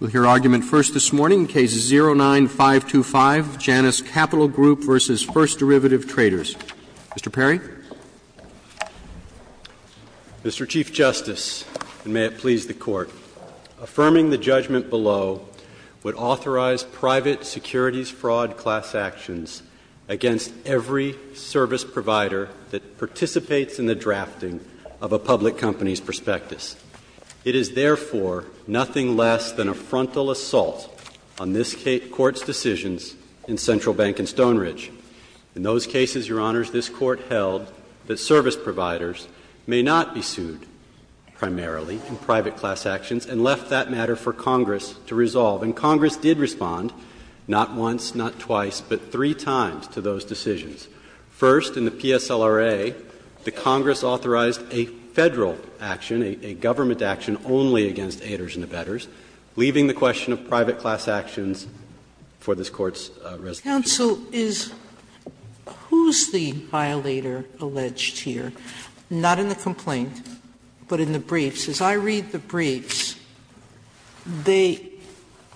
We'll hear argument first this morning, Case 09-525, Janus Capital Group v. First Derivative Traders. Mr. Perry? Mr. Chief Justice, and may it please the Court, affirming the judgment below would authorize private securities fraud class actions against every service provider that participates in the drafting of a public company's prospectus. It is therefore nothing less than a frontal assault on this Court's decisions in Central Bank and Stone Ridge. In those cases, Your Honors, this Court held that service providers may not be sued primarily in private class actions and left that matter for Congress to resolve. And Congress did respond not once, not twice, but three times to those decisions. First, in the PSLRA, the Congress authorized a Federal action, a government action, only against aiders and abettors, leaving the question of private class actions for this Court's resolution. Sotomayor, who is the violator alleged here? Not in the complaint, but in the briefs. As I read the briefs, they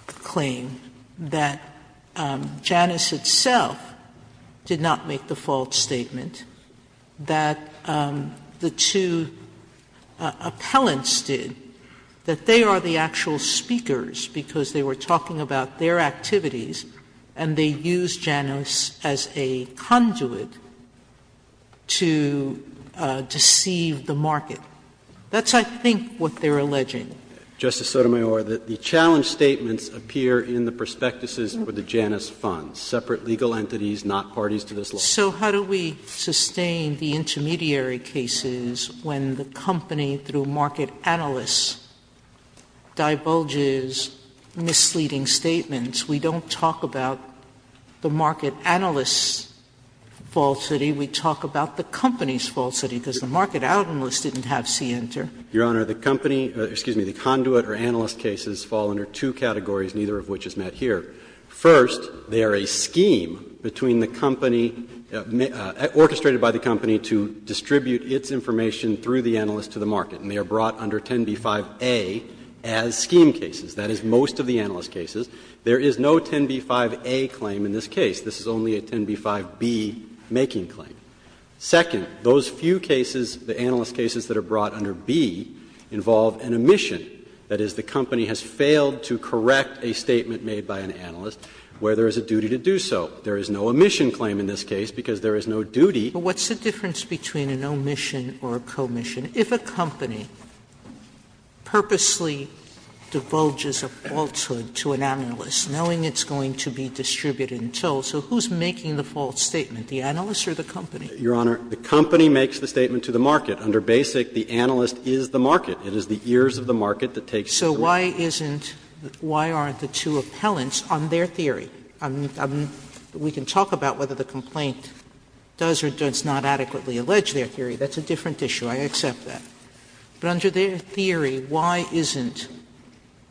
claim that Janus itself did not make the false statement, that the two appellants did, that they are the actual speakers because they were talking about their activities and they used Janus as a conduit to deceive the market. That's, I think, what they are alleging. Justice Sotomayor, the challenge statements appear in the prospectuses for the Janus funds, separate legal entities, not parties to this law. So how do we sustain the intermediary cases when the company, through market analysts, divulges misleading statements? We don't talk about the market analyst's falsity. We talk about the company's falsity, because the market analyst didn't have C enter. Your Honor, the company or, excuse me, the conduit or analyst cases fall under two categories, neither of which is met here. First, they are a scheme between the company, orchestrated by the company to distribute its information through the analyst to the market, and they are brought under 10b-5a as scheme cases. That is most of the analyst cases. There is no 10b-5a claim in this case. This is only a 10b-5b making claim. Second, those few cases, the analyst cases that are brought under b, involve an omission. That is, the company has failed to correct a statement made by an analyst where there is a duty to do so. There is no omission claim in this case, because there is no duty. Sotomayor, but what's the difference between an omission or a commission? If a company purposely divulges a falsehood to an analyst, knowing it's going to be distributed until, so who's making the false statement, the analyst or the company? Your Honor, the company makes the statement to the market. Under Basic, the analyst is the market. It is the ears of the market that takes the lead. So why isn't the two appellants on their theory? We can talk about whether the complaint does or does not adequately allege their theory. That's a different issue. I accept that. But under their theory, why isn't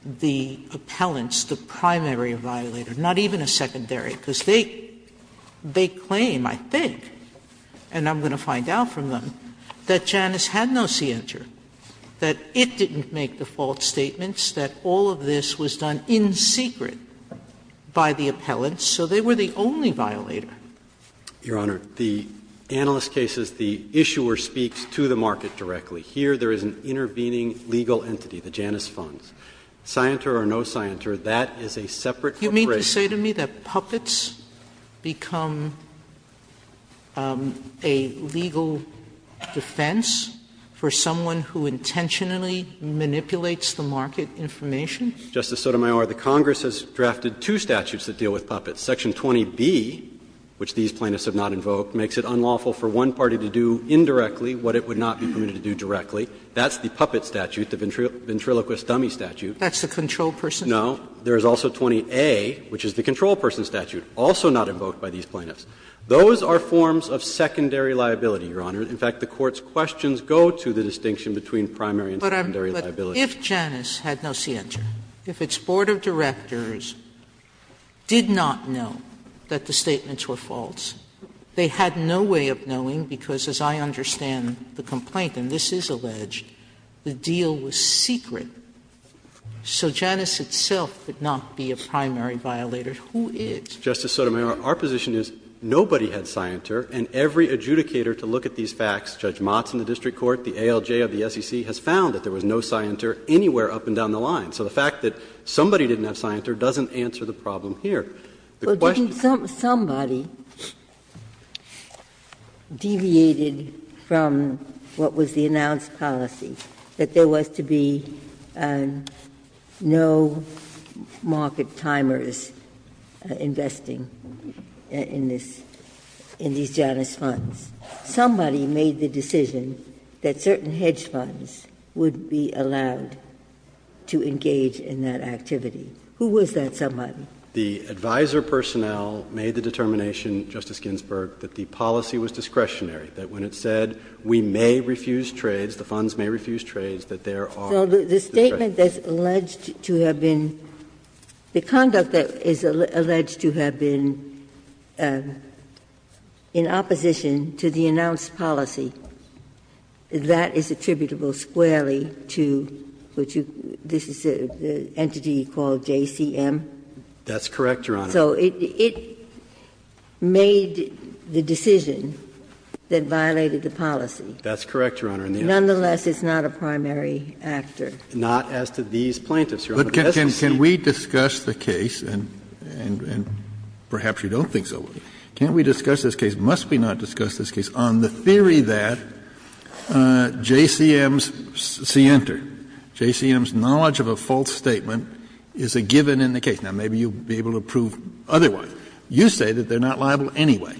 the appellant's, the primary violator, not even a secondary? Because they claim, I think, and I'm going to find out from them, that Janus had no scienter, that it didn't make the false statements, that all of this was done in secret by the appellants, so they were the only violator. Your Honor, the analyst cases, the issuer speaks to the market directly. Here, there is an intervening legal entity, the Janus Funds. Scienter or no scienter, that is a separate corporation. Sotomayor, do you mean to say to me that puppets become a legal defense for someone who intentionally manipulates the market information? Justice Sotomayor, the Congress has drafted two statutes that deal with puppets. Section 20B, which these plaintiffs have not invoked, makes it unlawful for one party to do indirectly what it would not be permitted to do directly. That's the puppet statute, the ventriloquist dummy statute. That's the controlled person statute? No. There is also 20A, which is the controlled person statute, also not invoked by these plaintiffs. Those are forms of secondary liability, Your Honor. In fact, the Court's questions go to the distinction between primary and secondary liability. Sotomayor, but if Janus had no scienter, if its board of directors did not know that the statements were false, they had no way of knowing, because as I understand the complaint, and this is alleged, the deal was secret. So Janus itself would not be a primary violator. Who is? Justice Sotomayor, our position is nobody had scienter, and every adjudicator to look at these facts, Judge Motts in the district court, the ALJ of the SEC, has found that there was no scienter anywhere up and down the line. So the fact that somebody didn't have scienter doesn't answer the problem here. And no market timer is investing in this, in these Janus funds. Somebody made the decision that certain hedge funds would be allowed to engage in that activity. Who was that somebody? The advisor personnel made the determination, Justice Ginsburg, that the policy was discretionary, that when it said we may refuse trades, the funds may refuse trades, that there are. So the statement that's alleged to have been the conduct that is alleged to have been in opposition to the announced policy, that is attributable squarely to, which you, this is an entity called JCM. That's correct, Your Honor. So it made the decision that violated the policy. That's correct, Your Honor. Nonetheless, it's not a primary actor. Not as to these plaintiffs, Your Honor. But can we discuss the case, and perhaps you don't think so, can we discuss this case, must we not discuss this case, on the theory that JCM's scienter, JCM's knowledge of a false statement is a given in the case? Now, maybe you'll be able to prove otherwise. You say that they're not liable anyway.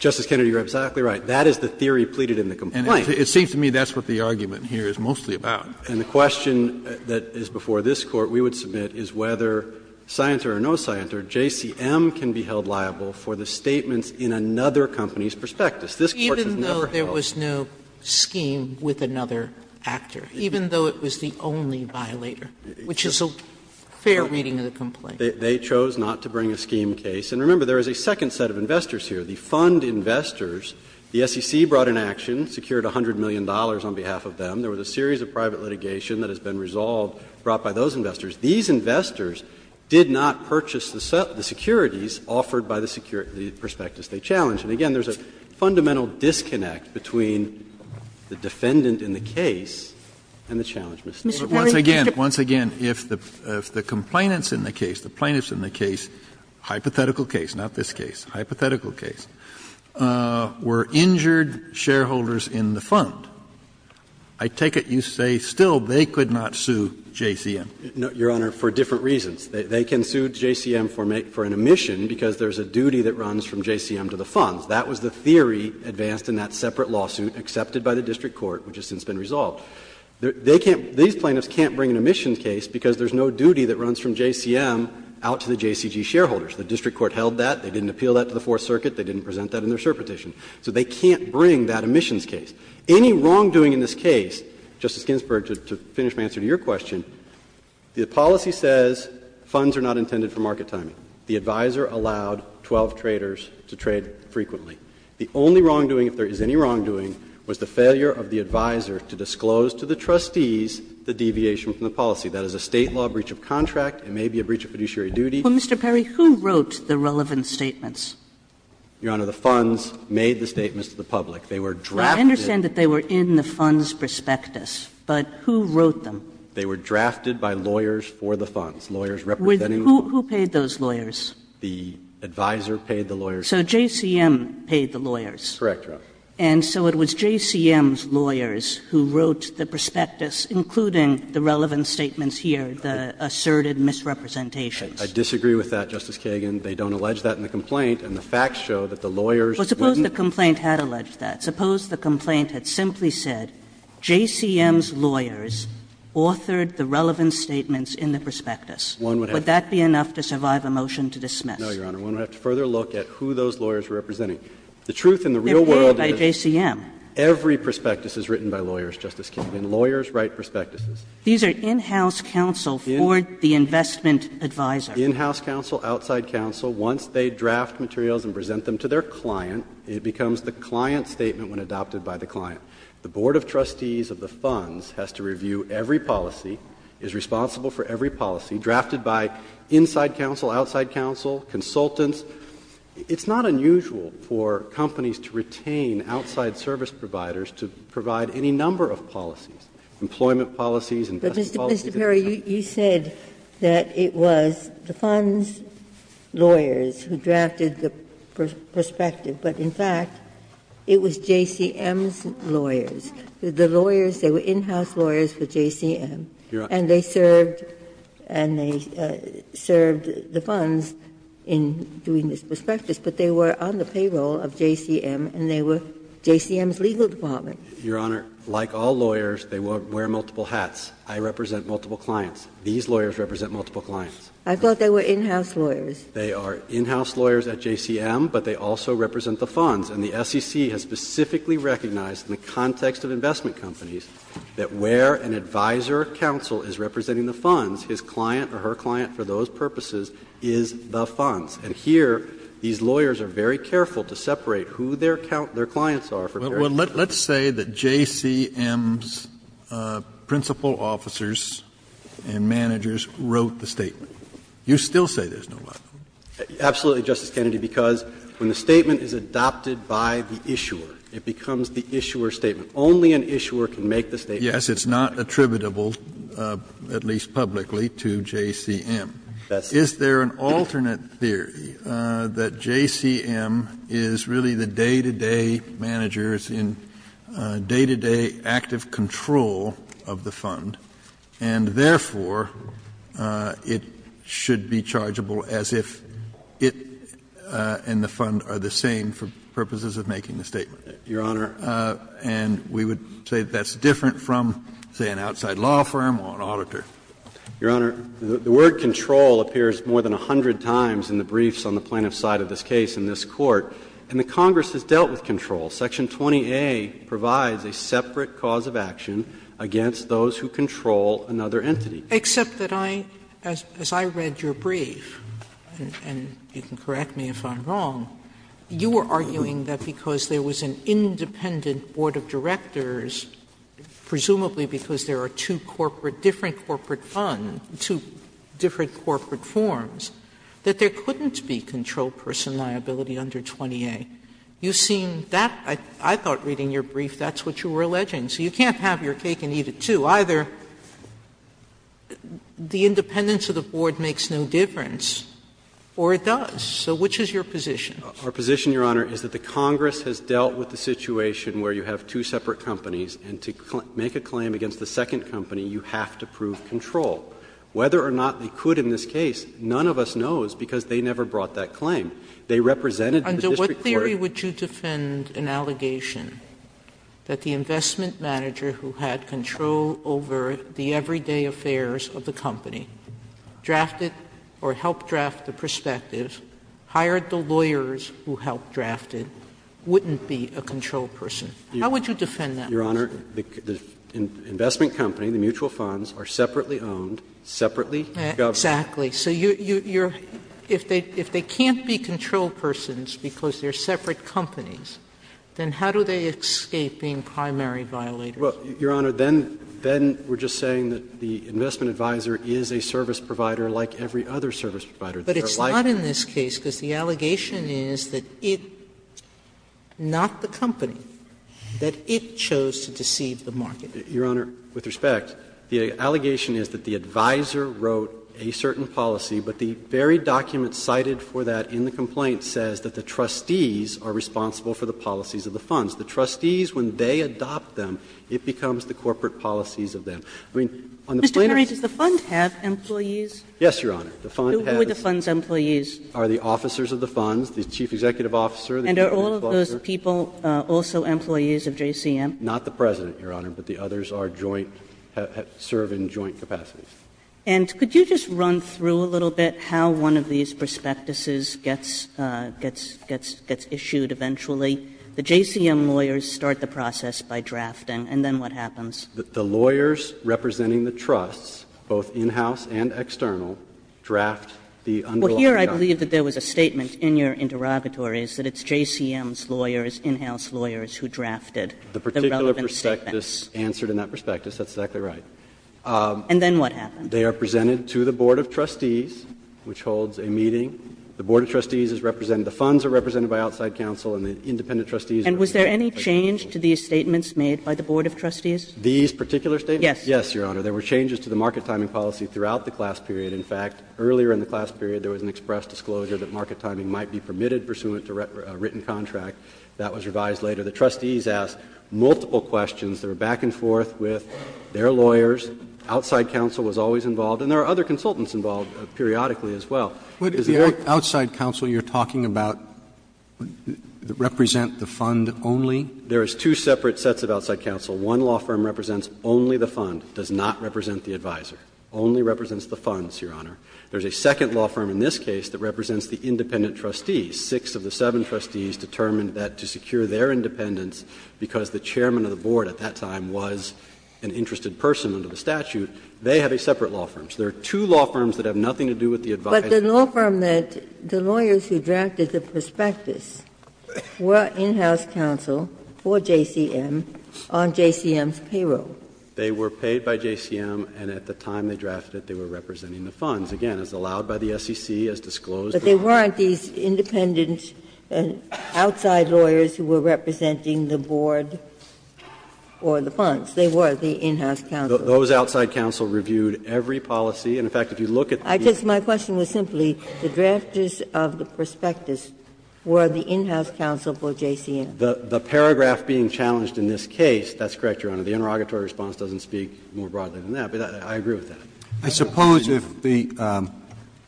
Justice Kennedy, you're exactly right. That is the theory pleaded in the complaint. And it seems to me that's what the argument here is mostly about. And the question that is before this Court we would submit is whether scienter or no scienter, JCM can be held liable for the statements in another company's prospectus. This Court has never held liable. Even though there was no scheme with another actor, even though it was the only violator, which is a fair reading of the complaint. They chose not to bring a scheme case. And remember, there is a second set of investors here. The fund investors, the SEC brought an action, secured $100 million on behalf of them. There was a series of private litigation that has been resolved, brought by those investors. These investors did not purchase the securities offered by the prospectus they challenged. And again, there's a fundamental disconnect between the defendant in the case and the challenge, Mr. Kagan. Once again, if the complainant's in the case, the plaintiff's in the case, hypothetical case, not this case, hypothetical case, were injured shareholders in the fund, I take it you say still they could not sue JCM? No, Your Honor, for different reasons. They can sue JCM for an omission because there's a duty that runs from JCM to the funds. That was the theory advanced in that separate lawsuit accepted by the district court, which has since been resolved. They can't – these plaintiffs can't bring an omission case because there's no duty that runs from JCM out to the JCG shareholders. The district court held that. They didn't appeal that to the Fourth Circuit. They didn't present that in their cert petition. So they can't bring that omissions case. Any wrongdoing in this case, Justice Ginsburg, to finish my answer to your question, the policy says funds are not intended for market timing. The advisor allowed 12 traders to trade frequently. The only wrongdoing, if there is any wrongdoing, was the failure of the advisor to disclose to the trustees the deviation from the policy. That is a State law breach of contract. It may be a breach of fiduciary duty. Kagan. Mr. Perry, who wrote the relevant statements? Perry, who wrote the relevant statements? Your Honor, the funds made the statements to the public. They were drafted. I understand that they were in the funds prospectus, but who wrote them? They were drafted by lawyers for the funds, lawyers representing the funds. Who paid those lawyers? The advisor paid the lawyers. So JCM paid the lawyers. Correct, Your Honor. And so it was JCM's lawyers who wrote the prospectus, including the relevant statements here, the asserted misrepresentations. I disagree with that, Justice Kagan. They don't allege that in the complaint, and the facts show that the lawyers wouldn't. But suppose the complaint had alleged that. Suppose the complaint had simply said JCM's lawyers authored the relevant statements in the prospectus. One would have to. Would that be enough to survive a motion to dismiss? No, Your Honor. One would have to further look at who those lawyers were representing. The truth in the real world is every prospectus is written by lawyers, Justice Kagan. Lawyers write prospectuses. These are in-house counsel for the investment advisor. In-house counsel, outside counsel, once they draft materials and present them to their client, it becomes the client's statement when adopted by the client. The board of trustees of the funds has to review every policy, is responsible for every policy, drafted by inside counsel, outside counsel, consultants. It's not unusual for companies to retain outside service providers to provide any number of policies, employment policies, investment policies. Ginsburg-McCarran, Jr. Mr. Perry, you said that it was the funds' lawyers who drafted the prospective. But in fact, it was JCM's lawyers. The lawyers, they were in-house lawyers for JCM. And they served the funds in doing this prospectus, but they were on the payroll of JCM and they were JCM's legal department. Your Honor, like all lawyers, they wear multiple hats. I represent multiple clients. These lawyers represent multiple clients. Ginsburg-McCarran, Jr. I thought they were in-house lawyers. They are in-house lawyers at JCM, but they also represent the funds. And the SEC has specifically recognized in the context of investment companies that where an advisor counsel is representing the funds, his client or her client for those purposes is the funds. purposes. Kennedy, let's say that JCM's principal officers and managers wrote the statement. You still say there's no lie. Absolutely, Justice Kennedy, because when the statement is adopted by the issuer, it becomes the issuer's statement. Only an issuer can make the statement. Yes, it's not attributable, at least publicly, to JCM. Is there an alternate theory that JCM is really the day-to-day managers in day-to-day active control of the fund, and therefore it should be chargeable as if it and the fund are the same for purposes of making the statement? Your Honor. And we would say that's different from, say, an outside law firm or an auditor. Your Honor, the word control appears more than a hundred times in the briefs on the plaintiff's side of this case in this Court. And the Congress has dealt with control. Section 20A provides a separate cause of action against those who control another entity. Except that I, as I read your brief, and you can correct me if I'm wrong, you were arguing that because there was an independent board of directors, presumably because there are two corporate, different corporate funds, two different corporate forms, that there couldn't be controlled person liability under 20A. You seem that, I thought reading your brief, that's what you were alleging. So you can't have your cake and eat it, too. Either the independence of the board makes no difference or it does. So which is your position? Our position, Your Honor, is that the Congress has dealt with the situation where you have two separate companies, and to make a claim against the second company, you have to prove control. Whether or not they could in this case, none of us knows, because they never brought that claim. They represented the district court. Sotomayor, under what theory would you defend an allegation that the investment manager who had control over the everyday affairs of the company drafted or helped draft the perspective, hired the lawyers who helped draft it, wouldn't be a control person liability? How would you defend that? Your Honor, the investment company, the mutual funds, are separately owned, separately governed. Exactly. So you're – if they can't be control persons because they're separate companies, then how do they escape being primary violators? Well, Your Honor, then we're just saying that the investment advisor is a service provider like every other service provider. But it's not in this case, because the allegation is that it, not the company, that it chose to deceive the market. Your Honor, with respect, the allegation is that the advisor wrote a certain policy, but the very document cited for that in the complaint says that the trustees are responsible for the policies of the funds. The trustees, when they adopt them, it becomes the corporate policies of them. I mean, on the plaintiff's case the fund has employees. Yes, Your Honor. Who are the fund's employees? Are the officers of the funds, the chief executive officer, the chief of the cluster. And are all of those people also employees of JCM? Not the President, Your Honor, but the others are joint – serve in joint capacities. And could you just run through a little bit how one of these prospectuses gets issued eventually? The JCM lawyers start the process by drafting, and then what happens? The lawyers representing the trusts, both in-house and external, draft the underlying document. Well, here I believe that there was a statement in your interrogatories that it's JCM's lawyers, in-house lawyers, who drafted the relevant statements. The particular prospectus answered in that prospectus. That's exactly right. And then what happened? They are presented to the board of trustees, which holds a meeting. The board of trustees is represented. The funds are represented by outside counsel and the independent trustees are represented by outside counsel. And was there any change to these statements made by the board of trustees? These particular statements? Yes. Yes, Your Honor. There were changes to the market timing policy throughout the class period. In fact, earlier in the class period there was an express disclosure that market timing might be permitted pursuant to a written contract. That was revised later. The trustees asked multiple questions. There were back and forth with their lawyers. Outside counsel was always involved. And there are other consultants involved periodically as well. Would the outside counsel you are talking about represent the fund only? There is two separate sets of outside counsel. One law firm represents only the fund, does not represent the advisor, only represents the funds, Your Honor. There is a second law firm in this case that represents the independent trustees. Six of the seven trustees determined that to secure their independence, because the chairman of the board at that time was an interested person under the statute, they have a separate law firm. So there are two law firms that have nothing to do with the advisor. But the law firm that the lawyers who drafted the prospectus were in-house counsel for JCM on JCM's payroll. They were paid by JCM and at the time they drafted it they were representing the funds. Again, as allowed by the SEC, as disclosed. But there weren't these independent outside lawyers who were representing the board or the funds. They were the in-house counsel. Those outside counsel reviewed every policy. And in fact, if you look at the piece of the law. I guess my question was simply, the drafters of the prospectus were the in-house counsel for JCM. The paragraph being challenged in this case, that's correct, Your Honor, the interrogatory response doesn't speak more broadly than that, but I agree with that. Roberts I suppose if the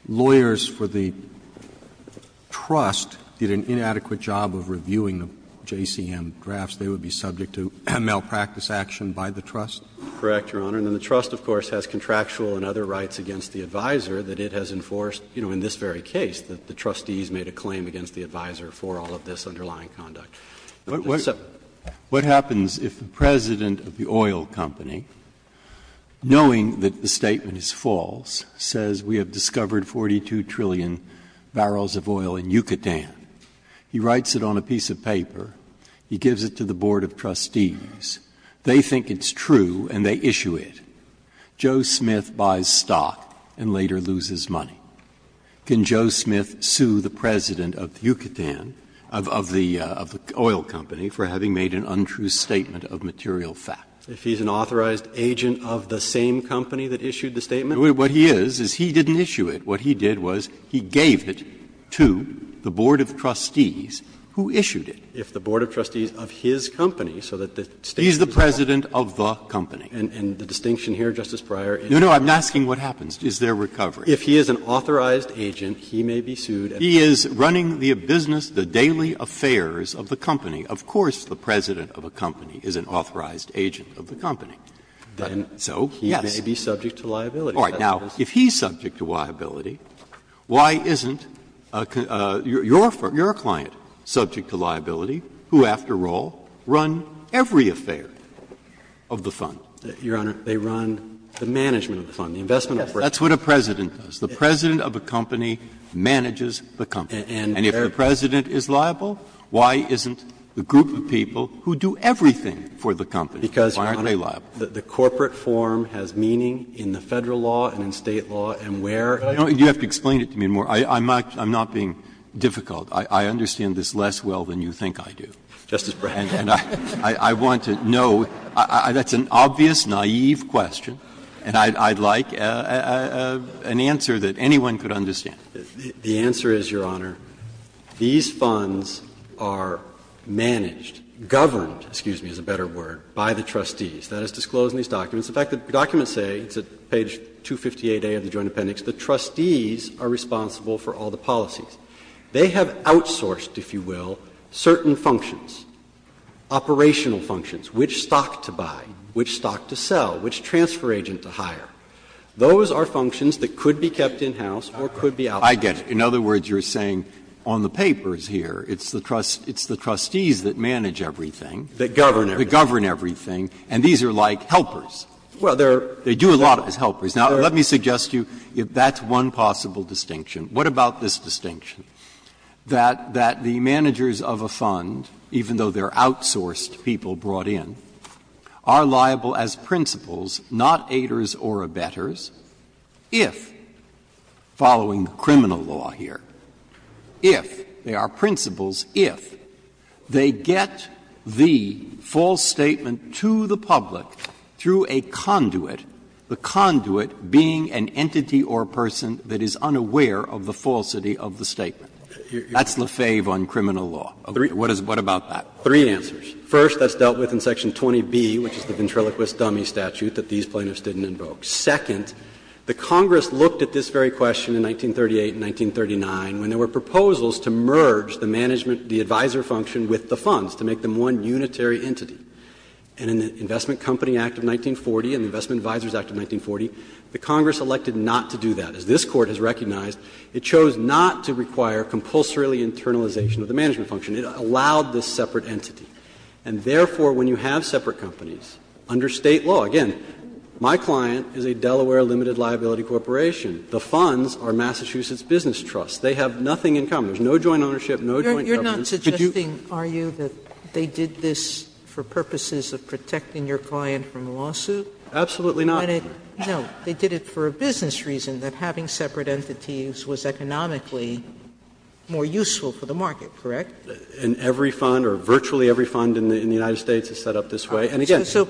lawyers for the trust did an inadequate job of reviewing the JCM drafts, they would be subject to malpractice action by the trust? Carvin Correct, Your Honor. And then the trust, of course, has contractual and other rights against the advisor that it has enforced, you know, in this very case, that the trustees made a claim against the advisor for all of this underlying conduct. Breyer What happens if the president of the oil company, knowing that the statement is false, says we have discovered 42 trillion barrels of oil in Yucatan, he writes it on a piece of paper, he gives it to the board of trustees, they think it's true and they issue it, Joe Smith buys stock and later loses money. Can Joe Smith sue the president of Yucatan, of the oil company, for having made an untrue statement of material fact? Carvin If he's an authorized agent of the same company that issued the statement? Breyer What he is, is he didn't issue it. What he did was he gave it to the board of trustees who issued it. Carvin If the board of trustees of his company, so that the statement is true. Breyer He's the president of the company. Carvin And the distinction here, Justice Breyer, is that the board of trustees issued it. Breyer No, no, I'm asking what happens. Is there recovery? Carvin If he is an authorized agent, he may be sued. Breyer He is running the business, the daily affairs of the company. Of course the president of a company is an authorized agent of the company. So, yes. Carvin He may be subject to liability. Breyer All right. Now, if he's subject to liability, why isn't your client subject to liability, who, after all, run every affair of the fund? Carvin Your Honor, they run the management of the fund, the investment of the fund. Breyer That's what a president does. The president of a company manages the company. And if the president is liable, why isn't the group of people who do everything for the company, why aren't they liable? Carvin Because, Your Honor, the corporate form has meaning in the Federal law and in State law, and where. Breyer You have to explain it to me more. I'm not being difficult. I understand this less well than you think I do. Carvin Justice Breyer. Breyer And I want to know. That's an obvious, naive question. And I'd like an answer that anyone could understand. Carvin The answer is, Your Honor, these funds are managed, governed, excuse me, is a better word, by the trustees. That is disclosed in these documents. In fact, the documents say, it's at page 258A of the Joint Appendix, the trustees are responsible for all the policies. They have outsourced, if you will, certain functions, operational functions, which stock to buy, which stock to sell, which transfer agent to hire. Those are functions that could be kept in-house or could be outsourced. Breyer I get it. In other words, you're saying on the papers here, it's the trustees that manage everything. Carvin That govern everything. Breyer That govern everything. And these are like helpers. Carvin Well, there are. Breyer They do a lot as helpers. Now, let me suggest to you that's one possible distinction. What about this distinction, that the managers of a fund, even though they are outsourced people brought in, are liable as principals, not aiders or abettors, if, following the criminal law here, if they are principals, if they get the false statement to the public through a conduit, the conduit being an entity or person that is unaware of the falsity of the statement? That's Lefebvre on criminal law. What about that? Breyer Three answers. First, that's dealt with in Section 20B, which is the ventriloquist dummy statute that these plaintiffs didn't invoke. Second, the Congress looked at this very question in 1938 and 1939 when there were proposals to merge the management, the advisor function with the funds, to make them one unitary entity. And in the Investment Company Act of 1940 and the Investment Advisors Act of 1940, the Congress elected not to do that. As this Court has recognized, it chose not to require compulsorily internalization of the management function. It allowed this separate entity. And therefore, when you have separate companies, under State law, again, my client is a Delaware limited liability corporation. The funds are Massachusetts Business Trust. They have nothing in common. There's no joint ownership, no joint governance. Could you? Sotomayor, you're not suggesting, are you, that they did this for purposes of protecting your client from a lawsuit? Absolutely not. No. They did it for a business reason, that having separate entities was economically more useful for the market, correct? And every fund, or virtually every fund in the United States is set up this way. And again, my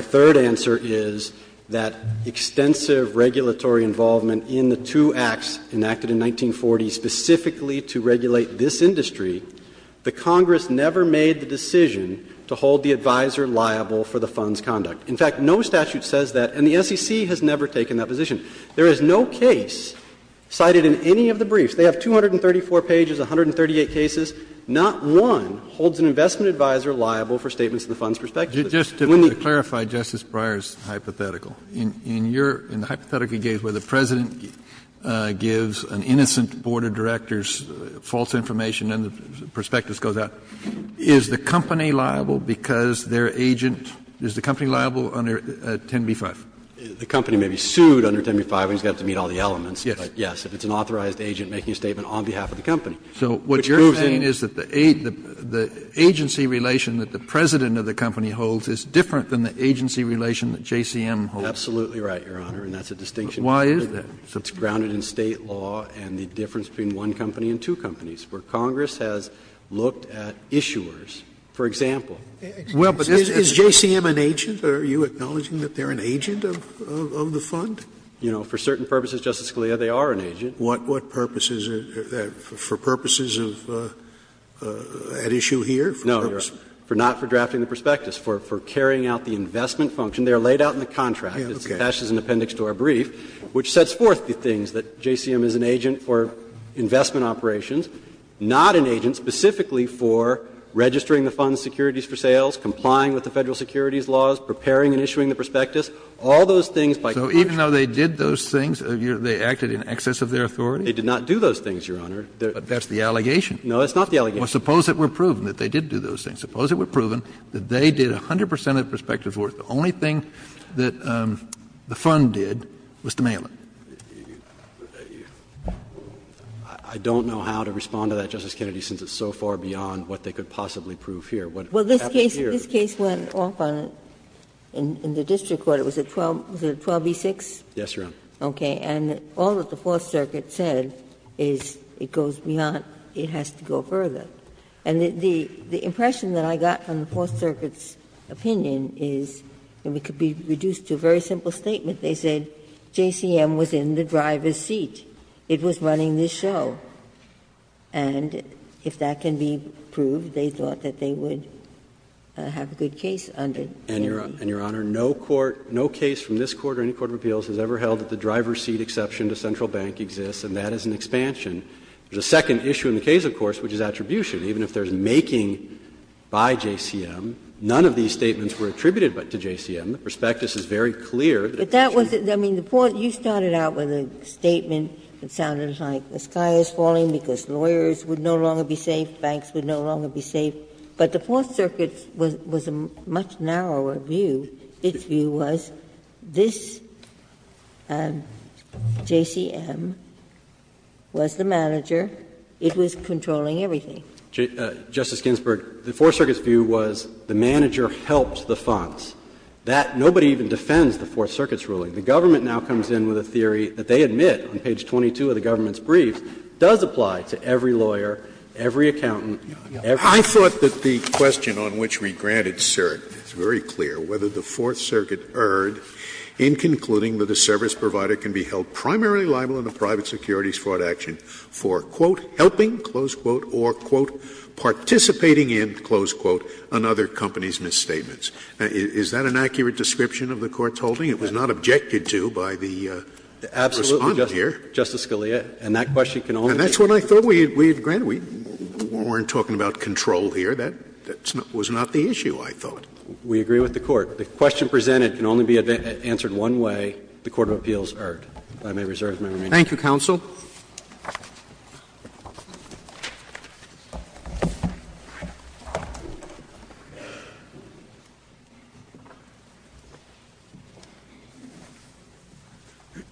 third answer is that extensive regulatory involvement in the two acts enacted in 1940 specifically to regulate this industry, the Congress never made the decision to hold the advisor liable for the fund's conduct. In fact, no statute says that, and the SEC has never taken that position. There is no case cited in any of the briefs. They have 234 pages, 138 cases. Not one holds an investment advisor liable for statements in the fund's perspective. Kennedy, just to clarify Justice Breyer's hypothetical. In your — in the hypothetical you gave where the President gives an innocent board of directors false information and the prospectus goes out, is the company liable because their agent — is the company liable under 10b-5? The company may be sued under 10b-5, and he's going to have to meet all the elements. But, yes, if it's an authorized agent making a statement on behalf of the company. Which proves in— Kennedy, so what you're saying is that the agency relation that the President of the company holds is different than the agency relation that JCM holds? Absolutely right, Your Honor, and that's a distinction. Why is that? It's grounded in State law and the difference between one company and two companies, where Congress has looked at issuers. For example— Scalia, well, but is JCM an agent? Are you acknowledging that they're an agent of the fund? You know, for certain purposes, Justice Scalia, they are an agent. What purpose is it for purposes of — at issue here? No, Your Honor, not for drafting the prospectus, for carrying out the investment function. They are laid out in the contract. It's attached as an appendix to our brief, which sets forth the things that JCM is an agent for investment operations, not an agent specifically for registering the fund's securities for sales, complying with the Federal securities laws, preparing and issuing the prospectus, all those things by Congress. So even though they did those things, they acted in excess of their authority? They did not do those things, Your Honor. But that's the allegation. No, it's not the allegation. Well, suppose it were proven that they did do those things. Suppose it were proven that they did 100 percent of the prospectus work. The only thing that the fund did was to mail it. I don't know how to respond to that, Justice Kennedy, since it's so far beyond what they could possibly prove here. What happened here? Well, this case went off on the district court. Was it 12B6? Yes, Your Honor. Okay. And all that the Fourth Circuit said is it goes beyond, it has to go further. And the impression that I got from the Fourth Circuit's opinion is, and it could be reduced to a very simple statement, they said JCM was in the driver's seat. It was running this show. And if that can be proved, they thought that they would have a good case under JCM. And, Your Honor, no court, no case from this Court or any court of appeals has ever held that the driver's seat exception to central bank exists, and that is an expansion. The second issue in the case, of course, which is attribution, even if there is making by JCM, none of these statements were attributed to JCM. Ginsburg. I mean, the Fourth Circuit, you started out with a statement that sounded like the sky is falling because lawyers would no longer be safe, banks would no longer be safe, but the Fourth Circuit's was a much narrower view. Its view was this JCM was the manager, it was controlling everything. Justice Ginsburg, the Fourth Circuit's view was the manager helped the funds. That no one even defends the Fourth Circuit's ruling. The government now comes in with a theory that they admit on page 22 of the government's brief does apply to every lawyer, every accountant, every lawyer. Scalia, I thought that the question on which we granted cert is very clear, whether the Fourth Circuit erred in concluding that a service provider can be held primarily liable in a private securities fraud action for, quote, helping, close quote, or, quote, participating in, close quote, another company's misstatements. Is that an accurate description of the Court's holding? It was not objected to by the Respondent here. Absolutely, Justice Scalia, and that question can only be answered. And that's what I thought we had granted. We weren't talking about control here. That was not the issue, I thought. We agree with the Court. The question presented can only be answered one way, the court of appeals erred. If I may reserve my remaining time. Thank you, counsel.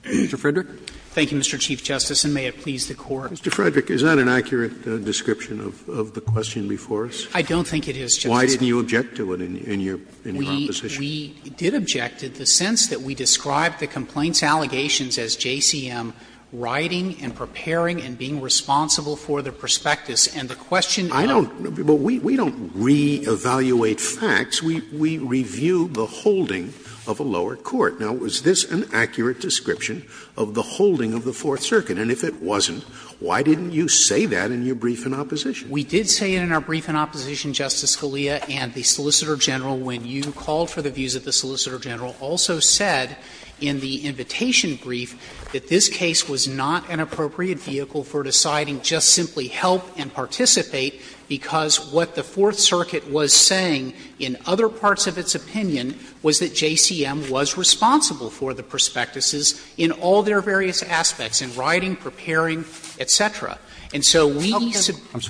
Mr. Frederick. Thank you, Mr. Chief Justice, and may it please the Court. Mr. Frederick, is that an accurate description of the question before us? I don't think it is, Justice Scalia. Why didn't you object to it in your proposition? We did object to it in the sense that we described the complaints allegations as JCM writing and preparing and being responsible for the prospectus. And the question now we don't re-evaluate facts. We review the holding of a lower court. Now, is this an accurate description of the holding of the Fourth Circuit? And if it wasn't, why didn't you say that in your brief in opposition? We did say it in our brief in opposition, Justice Scalia, and the Solicitor General, when you called for the views of the Solicitor General, also said in the invitation brief that this case was not an appropriate vehicle for deciding just simply help and participate, because what the Fourth Circuit was saying in other parts of its opinion was that JCM was responsible for the prospectuses in all their various aspects, in writing, preparing, et cetera. And so we submit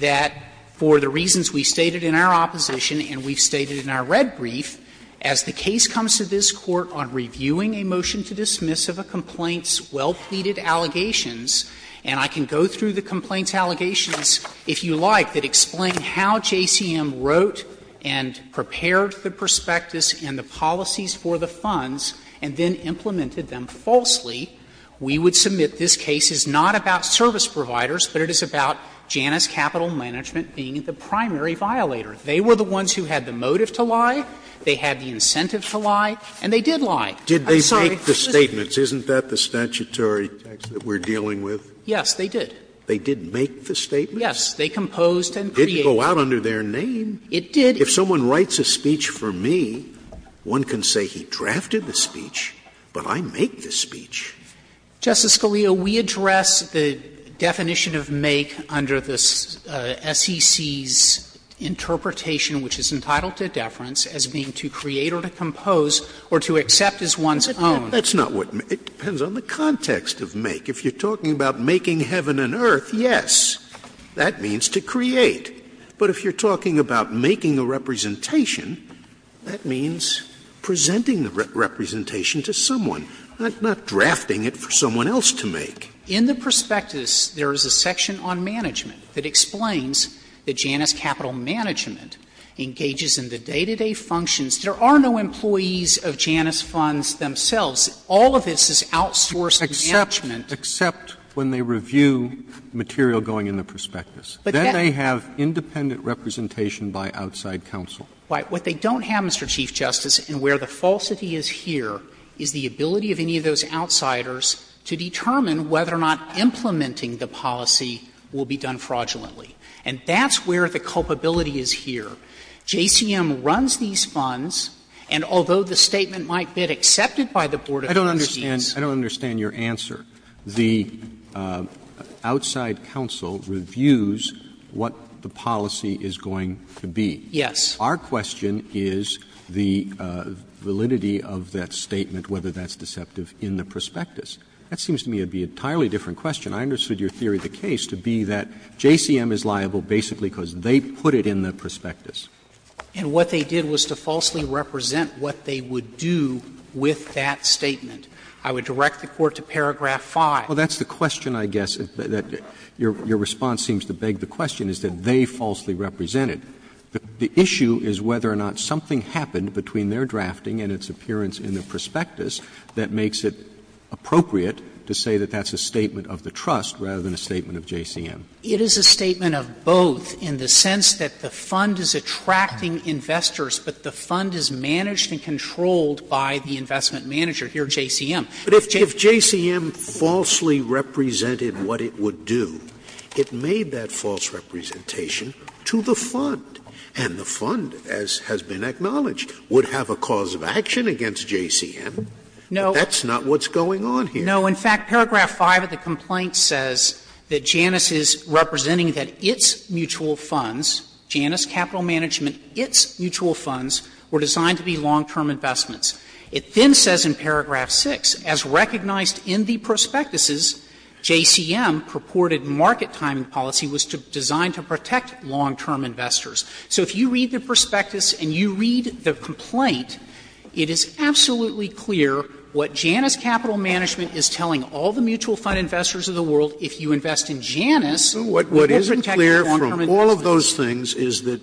that for the reasons we stated in our opposition and we've stated in our red brief, as the case comes to this Court on reviewing a motion to dismiss of a complaint's well-pleaded allegations, and I can go through the complaint's allegations, if you like, that explain how JCM wrote and prepared the prospectus and the policies for the funds and then implemented them falsely, we would submit this case is not about service providers, but it is about Janus Capital Management being the primary violator. They were the ones who had the motive to lie, they had the incentive to lie, and they did lie. I'm sorry, Justice Scalia. Scalia Didn't they make the statements? Isn't that the statutory text that we're dealing with? Frederick, yes, they did. They did make the statements? Yes, they composed and created. It didn't go out under their name. It did. If someone writes a speech for me, one can say he drafted the speech, but I make the speech. Justice Scalia, we address the definition of make under the SEC's interpretation which is entitled to deference as being to create or to compose or to accept as one's own. That's not what we're talking about. It depends on the context of make. If you're talking about making heaven and earth, yes, that means to create. But if you're talking about making a representation, that means presenting the representation to someone. I'm not drafting it for someone else to make. In the prospectus, there is a section on management that explains that Janus Capital management engages in the day-to-day functions. There are no employees of Janus Funds themselves. All of this is outsourced management. Except when they review material going in the prospectus. Then they have independent representation by outside counsel. What they don't have, Mr. Chief Justice, and where the falsity is here, is the ability of any of those outsiders to determine whether or not implementing the policy will be done fraudulently. And that's where the culpability is here. JCM runs these funds, and although the statement might be accepted by the board of trustees. Roberts. I don't understand your answer. The outside counsel reviews what the policy is going to be. Yes. Our question is the validity of that statement, whether that's deceptive in the prospectus. That seems to me to be an entirely different question. I understood your theory of the case to be that JCM is liable basically because they put it in the prospectus. And what they did was to falsely represent what they would do with that statement. I would direct the Court to paragraph 5. Well, that's the question, I guess. Your response seems to beg the question, is that they falsely represented. The issue is whether or not something happened between their drafting and its appearance in the prospectus that makes it appropriate to say that that's a statement of the trust rather than a statement of JCM. It is a statement of both in the sense that the fund is attracting investors, but the fund is managed and controlled by the investment manager here, JCM. But if JCM falsely represented what it would do, it made that false representation to the fund, and the fund, as has been acknowledged, would have a cause of action against JCM. That's not what's going on here. No. In fact, paragraph 5 of the complaint says that Janus is representing that its mutual funds, Janus Capital Management, its mutual funds were designed to be long-term investments. It then says in paragraph 6, So if you read the prospectus and you read the complaint, it is absolutely clear what Janus Capital Management is telling all the mutual fund investors of the world, if you invest in Janus, you will protect the long-term investments. Scalia, What is clear from all of those things is that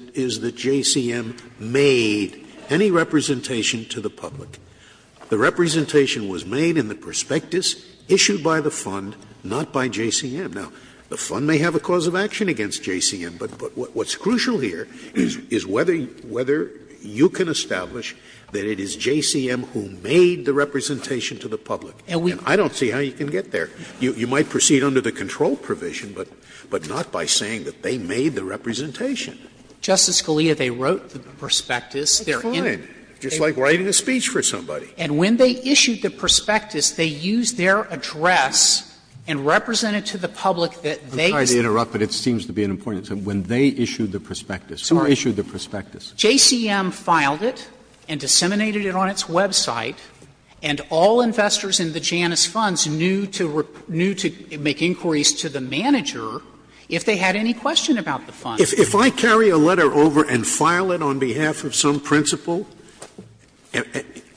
JCM made any representation to the public. The representation was made in the prospectus issued by the fund, not by JCM. Now, the fund may have a cause of action against JCM, but what's crucial here is whether you can establish that it is JCM who made the representation to the public. And I don't see how you can get there. You might proceed under the control provision, but not by saying that they made the representation. Justice Scalia, they wrote the prospectus. Scalia, Just like writing a speech for somebody. And when they issued the prospectus, they used their address and represented to the public that they. Scalia, I'm sorry to interrupt, but it seems to be an important thing. When they issued the prospectus, who issued the prospectus? JCM filed it and disseminated it on its website, and all investors in the Janus funds knew to make inquiries to the manager if they had any question about the fund. Scalia, if I carry a letter over and file it on behalf of some principal,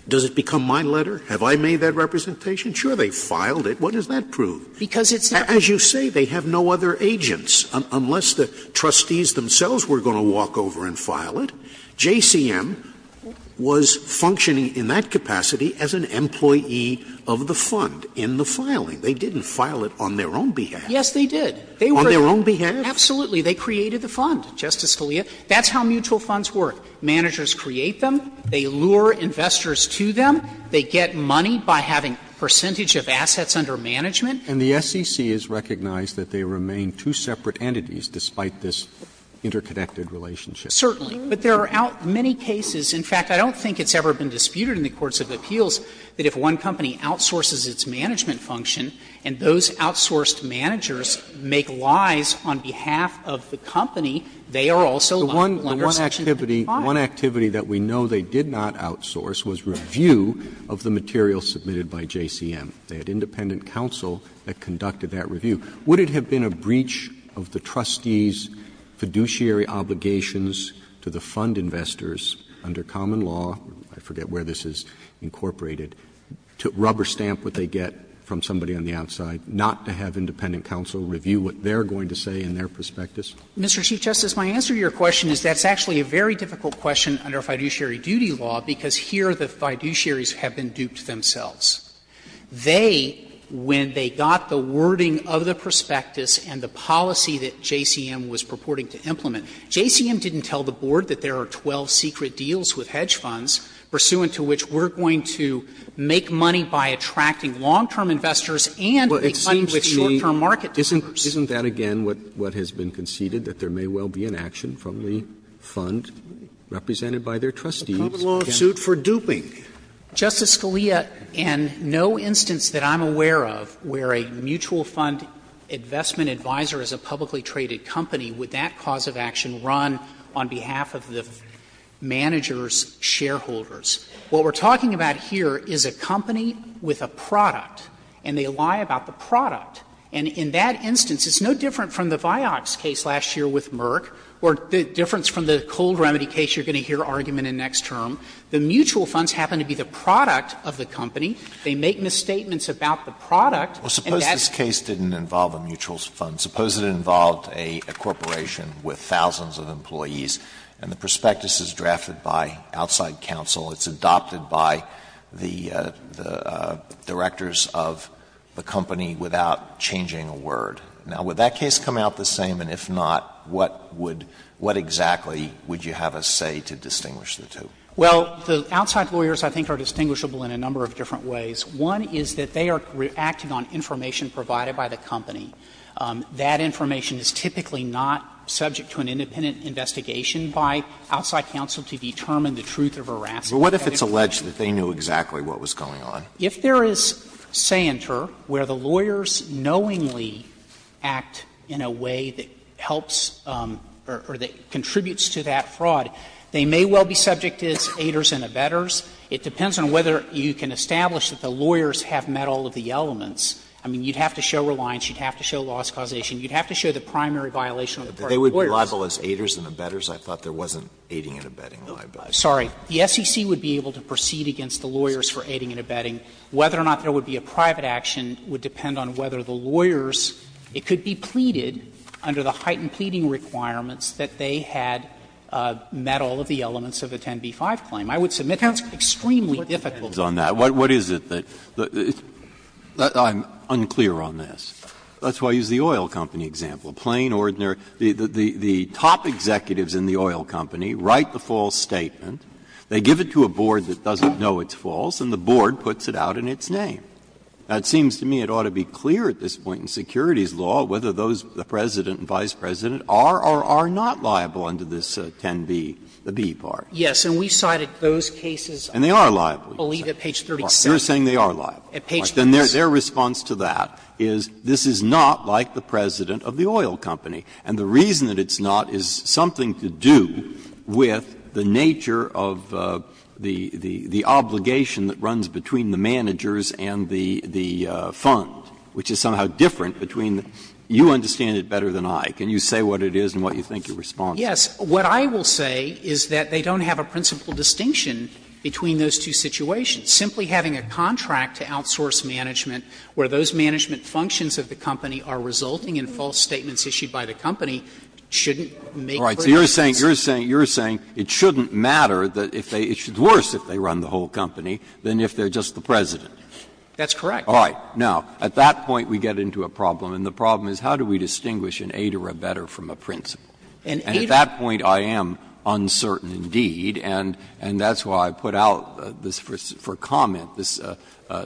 does it become my letter? Have I made that representation? Sure, they filed it. What does that prove? Because it's their own. As you say, they have no other agents, unless the trustees themselves were going to walk over and file it. JCM was functioning in that capacity as an employee of the fund in the filing. They didn't file it on their own behalf. Yes, they did. On their own behalf? Absolutely. They created the fund, Justice Scalia. That's how mutual funds work. Managers create them. They lure investors to them. They get money by having percentage of assets under management. And the SEC has recognized that they remain two separate entities, despite this interconnected relationship. Certainly. But there are many cases, in fact, I don't think it's ever been disputed in the courts of appeals, that if one company outsources its management function and those outsourced managers make lies on behalf of the company, they are also lenders to the company. One activity that we know they did not outsource was review of the material submitted by JCM. They had independent counsel that conducted that review. Would it have been a breach of the trustees' fiduciary obligations to the fund investors under common law, I forget where this is incorporated, to rubber stamp what they get from somebody on the outside, not to have independent counsel review what they're going to say in their prospectus? Mr. Chief Justice, my answer to your question is that's actually a very difficult question under fiduciary duty law, because here the fiduciaries have been duped themselves. They, when they got the wording of the prospectus and the policy that JCM was purporting to implement, JCM didn't tell the Board that there are 12 secret deals with hedge firm investors and a fund with short-term market dealers. Roberts, isn't that, again, what has been conceded, that there may well be an action from the fund represented by their trustees? Roberts, a common law suit for duping. Justice Scalia, in no instance that I'm aware of where a mutual fund investment advisor is a publicly traded company, would that cause of action run on behalf of the manager's shareholders? What we're talking about here is a company with a product, and they lie about the product. And in that instance, it's no different from the Vioxx case last year with Merck, or the difference from the Cold Remedy case you're going to hear argument in next term. The mutual funds happen to be the product of the company. They make misstatements about the product, and that's why they lie about the product. Alitos, this case didn't involve a mutual fund. Suppose it involved a corporation with thousands of employees, and the prospectus is drafted by outside counsel. It's adopted by the directors of the company without changing a word. Now, would that case come out the same? And if not, what would what exactly would you have us say to distinguish the two? Well, the outside lawyers I think are distinguishable in a number of different ways. One is that they are reacting on information provided by the company. That information is typically not subject to an independent investigation by outside counsel to determine the truth of harassment. Alitos, what if it's alleged that they knew exactly what was going on? If there is seientur, where the lawyers knowingly act in a way that helps or that contributes to that fraud, they may well be subject as aiders and abettors. It depends on whether you can establish that the lawyers have met all of the elements. I mean, you'd have to show reliance, you'd have to show loss causation, you'd have to show the primary violation on the part of the lawyers. Alitos, they would be liable as aiders and abettors. I thought there wasn't aiding and abetting liability. Sorry. The SEC would be able to proceed against the lawyers for aiding and abetting. Whether or not there would be a private action would depend on whether the lawyers – it could be pleaded under the heightened pleading requirements that they had met all of the elements of the 10b-5 claim. I would submit that's extremely difficult. What is it that – I'm unclear on this. That's why I use the oil company example. Plain, ordinary – the top executives in the oil company write the false statement, they give it to a board that doesn't know it's false, and the board puts it out in its name. Now, it seems to me it ought to be clear at this point in securities law whether those, the President and Vice President, are or are not liable under this 10b, the b part. Yes. And we cited those cases, I believe, at page 37. You're saying they are liable. At page 37. But then their response to that is, this is not like the President of the oil company. And the reason that it's not is something to do with the nature of the obligation that runs between the managers and the fund, which is somehow different between the – you understand it better than I. Can you say what it is and what you think your response is? Yes. What I will say is that they don't have a principal distinction between those two situations. Simply having a contract to outsource management where those management functions of the company are resulting in false statements issued by the company shouldn't make very much sense. All right. So you're saying, you're saying, you're saying it shouldn't matter if they – it's worse if they run the whole company than if they're just the President. That's correct. All right. Now, at that point we get into a problem, and the problem is how do we distinguish an aid or a better from a principal? An aid or a better. And at that point I am uncertain indeed, and that's why I put out this for clarification or comment, this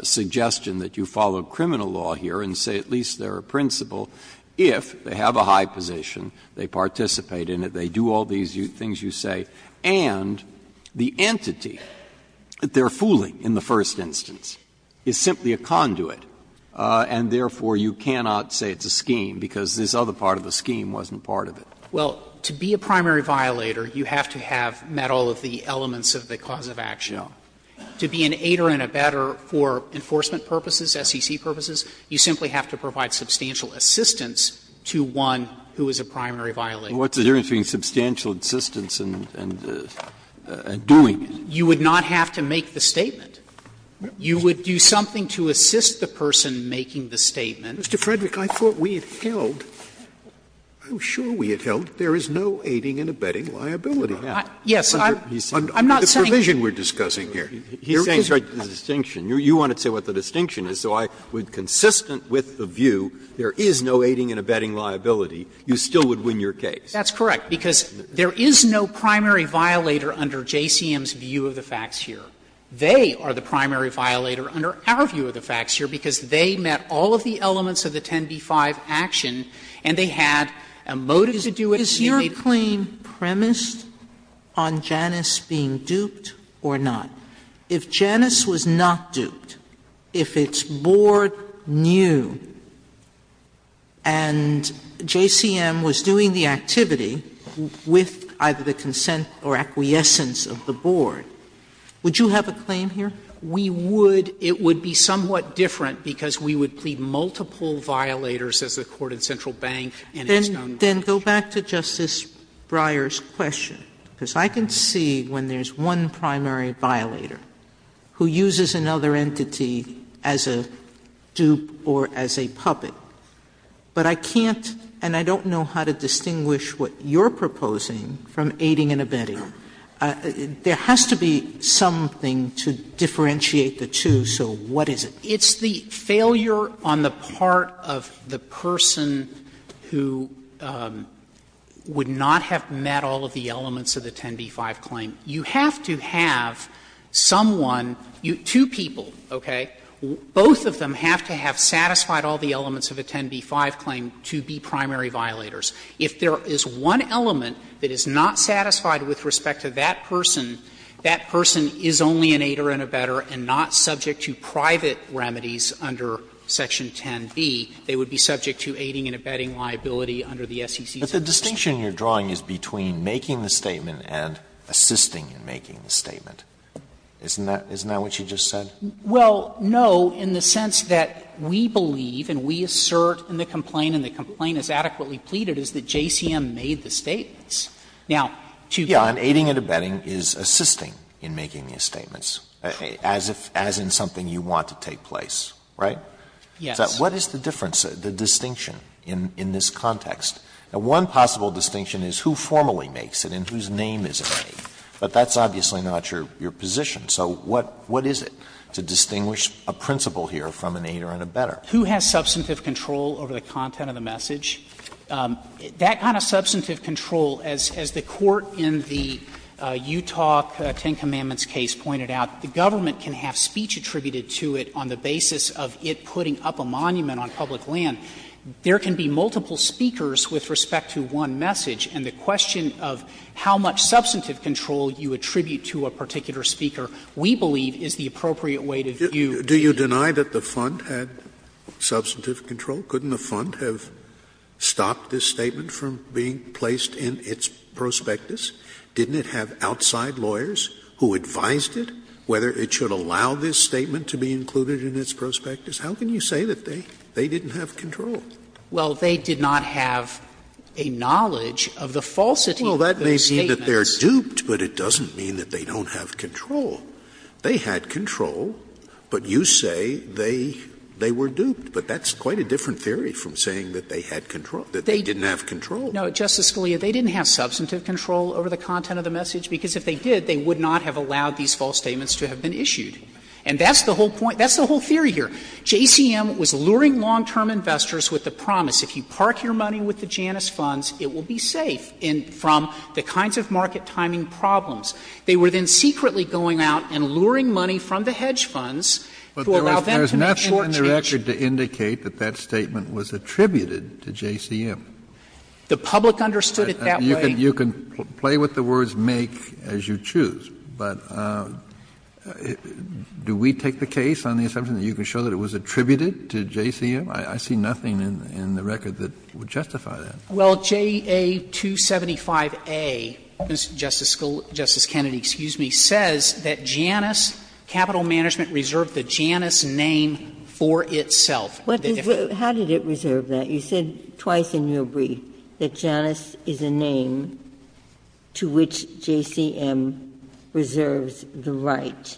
suggestion that you follow criminal law here and say at least they're a principal if they have a high position, they participate in it, they do all these things you say, and the entity that they're fooling in the first instance is simply a conduit, and therefore you cannot say it's a scheme because this other part of the scheme wasn't part of it. Well, to be a primary violator, you have to have met all of the elements of the cause of action. No. To be an aid or an abetter for enforcement purposes, SEC purposes, you simply have to provide substantial assistance to one who is a primary violator. Well, what's the difference between substantial assistance and doing it? You would not have to make the statement. You would do something to assist the person making the statement. Mr. Frederick, I thought we had held – I'm sure we had held there is no aiding and abetting liability. Yes. I'm not saying you can't. He's saying the distinction. You wanted to say what the distinction is, so I would, consistent with the view there is no aiding and abetting liability, you still would win your case. That's correct, because there is no primary violator under JCM's view of the facts here. They are the primary violator under our view of the facts here because they met all of the elements of the 10b-5 action and they had a motive to do it. Sotomayor, is your claim premised on Janus being duped or not? If Janus was not duped, if its board knew and JCM was doing the activity with either the consent or acquiescence of the board, would you have a claim here? We would. It would be somewhat different because we would plead multiple violators as the court in Central Bank and in Stone. Then go back to Justice Breyer's question, because I can see when there is one primary violator who uses another entity as a dupe or as a puppet, but I can't and I don't know how to distinguish what you are proposing from aiding and abetting. There has to be something to differentiate the two, so what is it? Failure on the part of the person who would not have met all of the elements of the 10b-5 claim, you have to have someone, two people, okay, both of them have to have satisfied all of the elements of a 10b-5 claim to be primary violators. If there is one element that is not satisfied with respect to that person, that person is only an aider and abetter and not subject to private remedies under section 10b, they would be subject to aiding and abetting liability under the SEC's. Alito But the distinction you are drawing is between making the statement and assisting in making the statement. Isn't that what you just said? Well, no, in the sense that we believe and we assert in the complaint and the complaint is adequately pleaded is that JCM made the statements. Alito As in something you want to take place, right? So what is the difference, the distinction in this context? One possible distinction is who formally makes it and whose name is it made, but that's obviously not your position. So what is it to distinguish a principal here from an aider and abetter? Who has substantive control over the content of the message? That kind of substantive control, as the Court in the Utah Ten Commandments case pointed out, the government can have speech attributed to it on the basis of it putting up a monument on public land. There can be multiple speakers with respect to one message, and the question of how much substantive control you attribute to a particular speaker, we believe is the appropriate way to view the case. Scalia Do you deny that the Fund had substantive control? Couldn't the Fund have stopped this statement from being placed in its prospectus? Didn't it have outside lawyers who advised it whether it should allow this statement to be included in its prospectus? How can you say that they didn't have control? Well, they did not have a knowledge of the falsity of those statements. Well, that may seem that they are duped, but it doesn't mean that they don't have control. They had control, but you say they were duped. But that's quite a different theory from saying that they had control, that they didn't have control. No, Justice Scalia, they didn't have substantive control over the content of the message, because if they did, they would not have allowed these false statements to have been issued. And that's the whole point. That's the whole theory here. JCM was luring long-term investors with the promise, if you park your money with the Janus Funds, it will be safe from the kinds of market timing problems. They were then secretly going out and luring money from the hedge funds to allow them to make short changes. Kennedy, I'm sorry, but I'm not sure that that statement was attributed to JCM. The public understood it that way. You can play with the words make as you choose, but do we take the case on the assumption that you can show that it was attributed to JCM? I see nothing in the record that would justify that. Well, JA275A, Justice Kennedy, excuse me, says that Janus Capital Management reserved the Janus name for itself. How did it reserve that? You said twice in your brief that Janus is a name to which JCM reserves the right.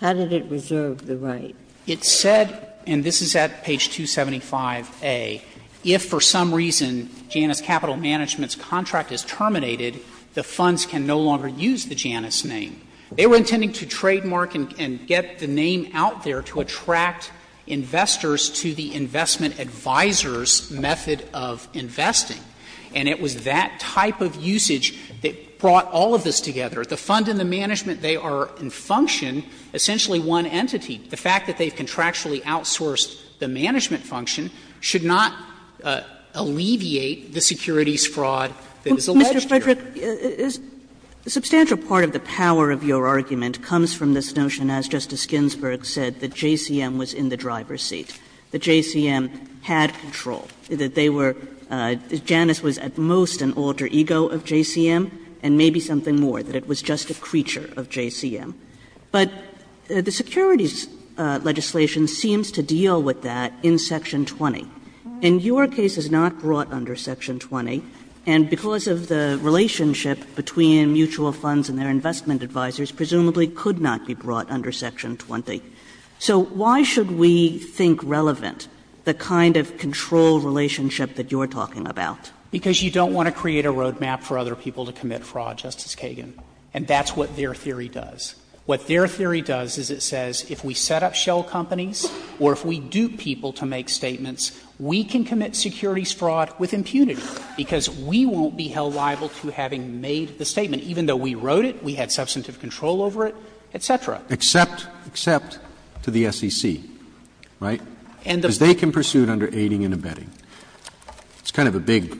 How did it reserve the right? It said, and this is at page 275A, if for some reason Janus Capital Management's contract is terminated, the funds can no longer use the Janus name. They were intending to trademark and get the name out there to attract investors to the investment advisor's method of investing. And it was that type of usage that brought all of this together. The fund and the management, they are in function essentially one entity. The fact that they've contractually outsourced the management function should not alleviate the securities fraud that is alleged here. Kagan. But substantial part of the power of your argument comes from this notion, as Justice Ginsburg said, that JCM was in the driver's seat, that JCM had control, that they were — Janus was at most an alter ego of JCM, and maybe something more, that it was just a creature of JCM. But the securities legislation seems to deal with that in Section 20. In your case, it's not brought under Section 20. And because of the relationship between mutual funds and their investment advisors, presumably could not be brought under Section 20. So why should we think relevant the kind of control relationship that you're talking about? Because you don't want to create a road map for other people to commit fraud, Justice Kagan. And that's what their theory does. What their theory does is it says if we set up shell companies or if we dupe people to make statements, we can commit securities fraud with impunity, because we won't be held liable to having made the statement, even though we wrote it, we had substantive control over it, et cetera. Except to the SEC, right? Because they can pursue it under aiding and abetting. It's kind of a big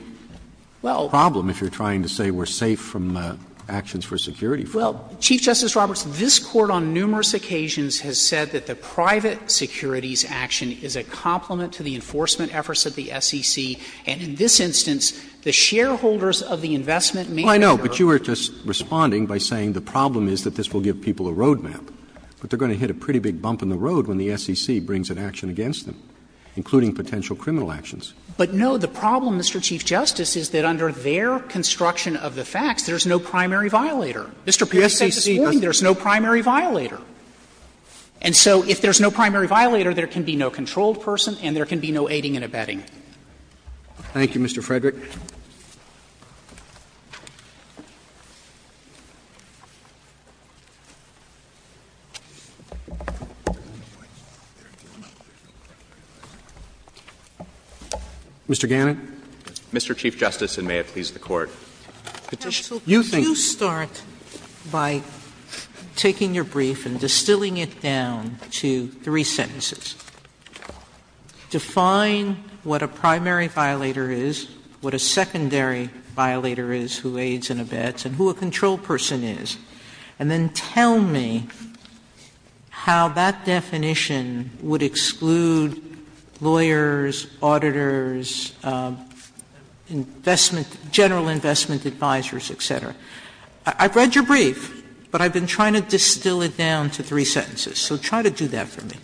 problem if you're trying to say we're safe from actions for security fraud. Well, Chief Justice Roberts, this Court on numerous occasions has said that the private securities action is a complement to the enforcement efforts of the SEC, and in this instance, the shareholders of the investment manager. Well, I know, but you were just responding by saying the problem is that this will give people a road map. But they're going to hit a pretty big bump in the road when the SEC brings an action against them, including potential criminal actions. But, no, the problem, Mr. Chief Justice, is that under their construction of the facts, there's no primary violator. Mr. Perry said this morning there's no primary violator. And so if there's no primary violator, there can be no controlled person and there can be no aiding and abetting. Roberts. Thank you, Mr. Frederick. Mr. Gannon. Mr. Chief Justice, and may it please the Court. Petition. Sotomayor, you start by taking your brief and distilling it down to three sentences. Define what a primary violator is, what a secondary violator is, who aids and abets, and who a controlled person is, and then tell me how that definition would exclude lawyers, auditors, investment, general investment advisors, et cetera. I've read your brief, but I've been trying to distill it down to three sentences. So try to do that for me.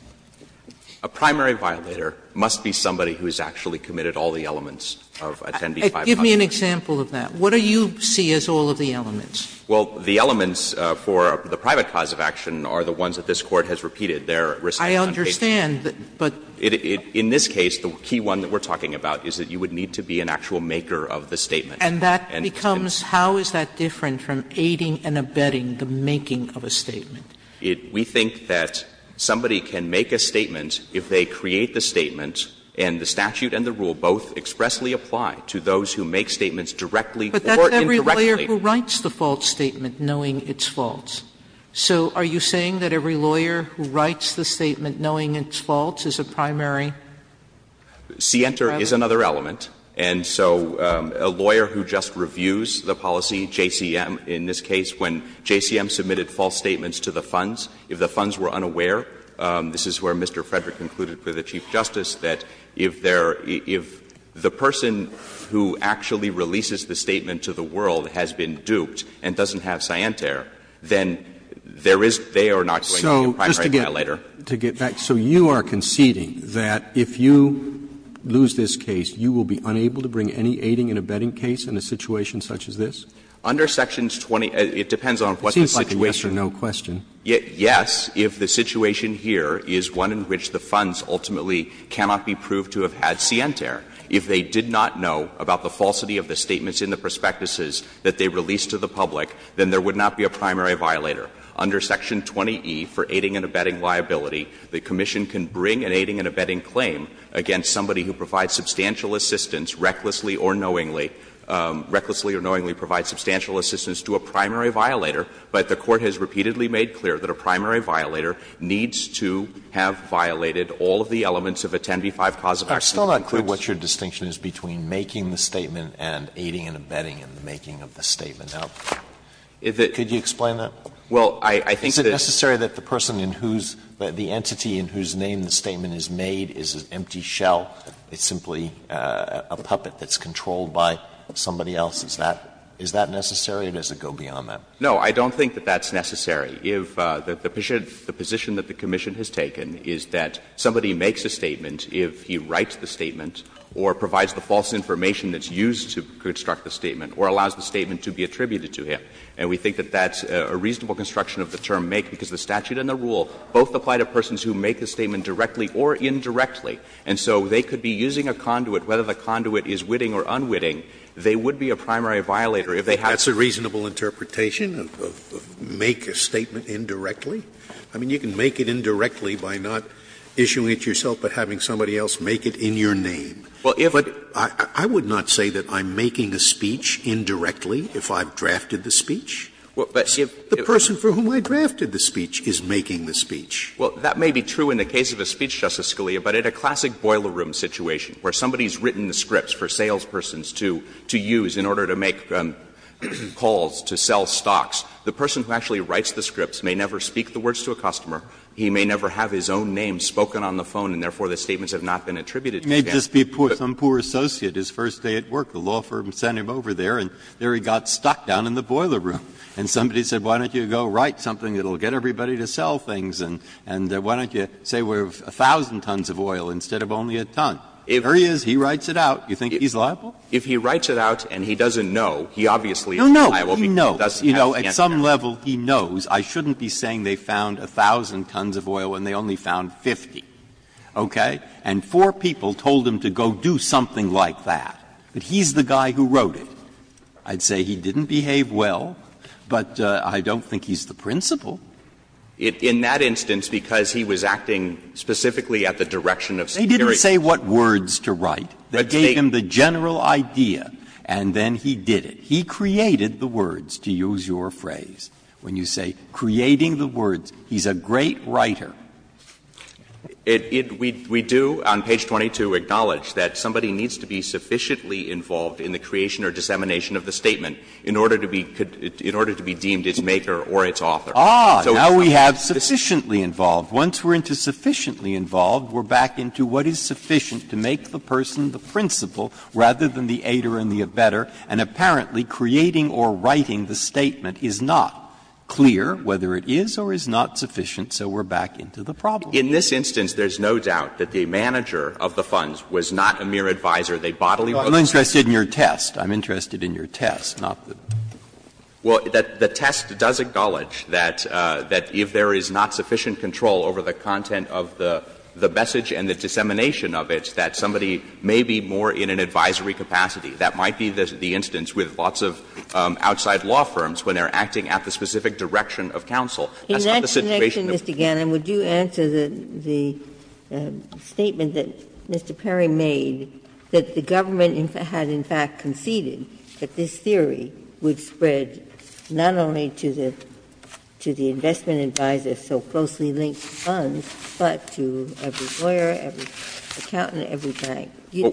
A primary violator must be somebody who has actually committed all the elements of a 10b-5 contract. Give me an example of that. What do you see as all of the elements? Well, the elements for the private cause of action are the ones that this Court has repeated. They're risk-taking and unpaid. I understand, but. In this case, the key one that we're talking about is that you would need to be an actual maker of the statement. And that becomes, how is that different from aiding and abetting the making of a statement? We think that somebody can make a statement if they create the statement, and the statute and the rule both expressly apply to those who make statements directly or indirectly. But that's every lawyer who writes the false statement knowing it's false. So are you saying that every lawyer who writes the statement knowing it's false is a primary? Sienter is another element. And so a lawyer who just reviews the policy, JCM in this case, when JCM submitted false statements to the funds, if the funds were unaware, this is where Mr. Frederick concluded for the Chief Justice, that if there — if the person who actually releases the statement to the world has been duped and doesn't have Sienter, then there is — they are not going to be a primary violator. So just to get back, so you are conceding that if you lose this case, you will be unable to bring any aiding and abetting case in a situation such as this? Under Sections 20 — it depends on what the situation is. It seems like a yes-or-no question. Yes, if the situation here is one in which the funds ultimately cannot be proved to have had Sienter. If they did not know about the falsity of the statements in the prospectuses that they released to the public, then there would not be a primary violator. Under Section 20e for aiding and abetting liability, the commission can bring an aiding and abetting claim against somebody who provides substantial assistance, recklessly or knowingly — recklessly or knowingly provides substantial assistance to a primary violator, but the Court has repeatedly made clear that a primary violator needs to have violated all of the elements of a 10b-5 cause of action. Alito, I'm still not clear what your distinction is between making the statement and aiding and abetting in the making of the statement. Now, could you explain that? Is it necessary that the person in whose — the entity in whose name the statement is made is an empty shell? It's simply a puppet that's controlled by somebody else? Is that necessary, or does it go beyond that? No, I don't think that that's necessary. If the position that the commission has taken is that somebody makes a statement if he writes the statement or provides the false information that's used to construct the statement or allows the statement to be attributed to him, and we think that that's a reasonable construction of the term make, because the statute and the rule both apply to persons who make a statement directly or indirectly, and so they could be using a conduit, whether the conduit is witting or unwitting, they would be a primary violator if they had to. Scalia, is it a reasonable interpretation of make a statement indirectly? I mean, you can make it indirectly by not issuing it yourself, but having somebody else make it in your name. But I would not say that I'm making a speech indirectly if I've drafted the speech. The person for whom I drafted the speech is making the speech. Well, that may be true in the case of a speech, Justice Scalia, but in a classic boiler room situation where somebody's written the scripts for salespersons to use in order to make calls to sell stocks, the person who actually writes the scripts may never speak the words to a customer, he may never have his own name spoken on the phone, and therefore, the statements have not been attributed to him. Breyer. Some poor associate, his first day at work, the law firm sent him over there, and there he got stuck down in the boiler room. And somebody said, why don't you go write something that will get everybody to sell things, and why don't you say we're 1,000 tons of oil instead of only a ton. There he is, he writes it out. You think he's liable? If he writes it out and he doesn't know, he obviously is liable because he doesn't have the answer. No, no, he knows. You know, at some level he knows. I shouldn't be saying they found 1,000 tons of oil when they only found 50, okay? And four people told him to go do something like that. But he's the guy who wrote it. I'd say he didn't behave well, but I don't think he's the principal. In that instance, because he was acting specifically at the direction of security. Breyer, let's say what words to write that gave him the general idea, and then he did it. He created the words, to use your phrase. When you say creating the words, he's a great writer. We do on page 22 acknowledge that somebody needs to be sufficiently involved in the creation or dissemination of the statement in order to be deemed its maker or its author. Ah, now we have sufficiently involved. Once we're into sufficiently involved, we're back into what is sufficient to make the person the principal rather than the aider and the abetter, and apparently creating or writing the statement is not clear whether it is or is not sufficient, so we're back into the problem. In this instance, there's no doubt that the manager of the funds was not a mere advisor. They bodily wrote the statement. I'm interested in your test. I'm interested in your test, not the. Well, the test does acknowledge that if there is not sufficient control over the content of the message and the dissemination of it, that somebody may be more in an advisory capacity. That might be the instance with lots of outside law firms when they're acting at the specific direction of counsel. That's not the situation of. Ginsburg. In that connection, Mr. Gannon, would you answer the statement that Mr. Perry made, that the government had in fact conceded that this theory would spread not only to the investment advisor, so closely linked to funds, but to every lawyer, every accountant, every bank. You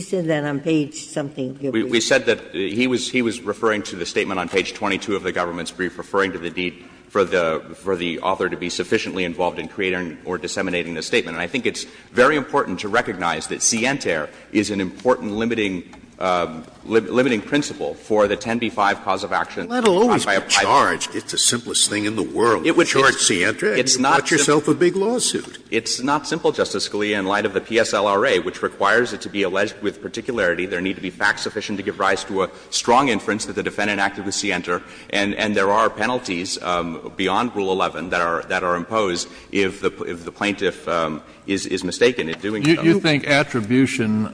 said that on page something. We said that he was referring to the statement on page 22 of the government's brief, referring to the need for the author to be sufficiently involved in creating or disseminating the statement. And I think it's very important to recognize that scientere is an important limiting principle for the 10b-5 cause of action. Scalia, which requires it to be alleged with particularity, there need to be facts sufficient to give rise to a strong inference that the defendant acted with scientere, and there are penalties beyond Rule 11 that are imposed if the plaintiff is not in is mistaken in doing so. Kennedy, you think attribution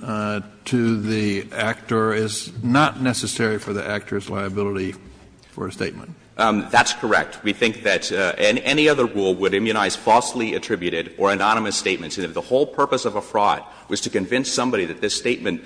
to the actor is not necessary for the actor's liability for a statement? That's correct. We think that any other rule would immunize falsely attributed or anonymous statements. And if the whole purpose of a fraud was to convince somebody that this statement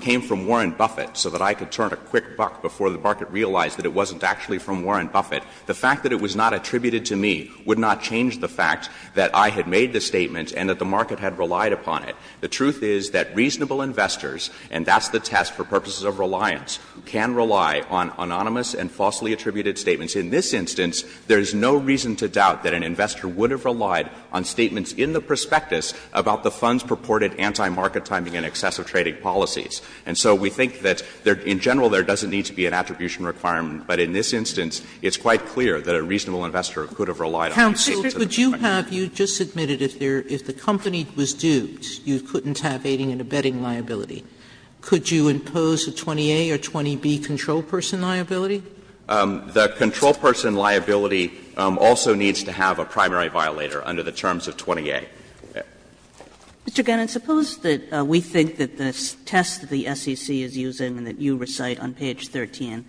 came from Warren Buffett so that I could turn a quick buck before the market realized that it wasn't actually from Warren Buffett, the fact that it was not attributed to me would not change the fact that I had made the statement and that the market had relied upon it. The truth is that reasonable investors, and that's the test for purposes of reliance, can rely on anonymous and falsely attributed statements. In this instance, there is no reason to doubt that an investor would have relied on statements in the prospectus about the fund's purported anti-market timing and excessive trading policies. And so we think that in general there doesn't need to be an attribution requirement. But in this instance, it's quite clear that a reasonable investor could have relied on statements in the prospectus. Sotomayor, you just admitted if the company was due, you couldn't have aiding and abetting liability. Could you impose a 20A or 20B control person liability? The control person liability also needs to have a primary violator under the terms of 20A. Sotomayor, we think that the test that the SEC is using and that you recite on page 13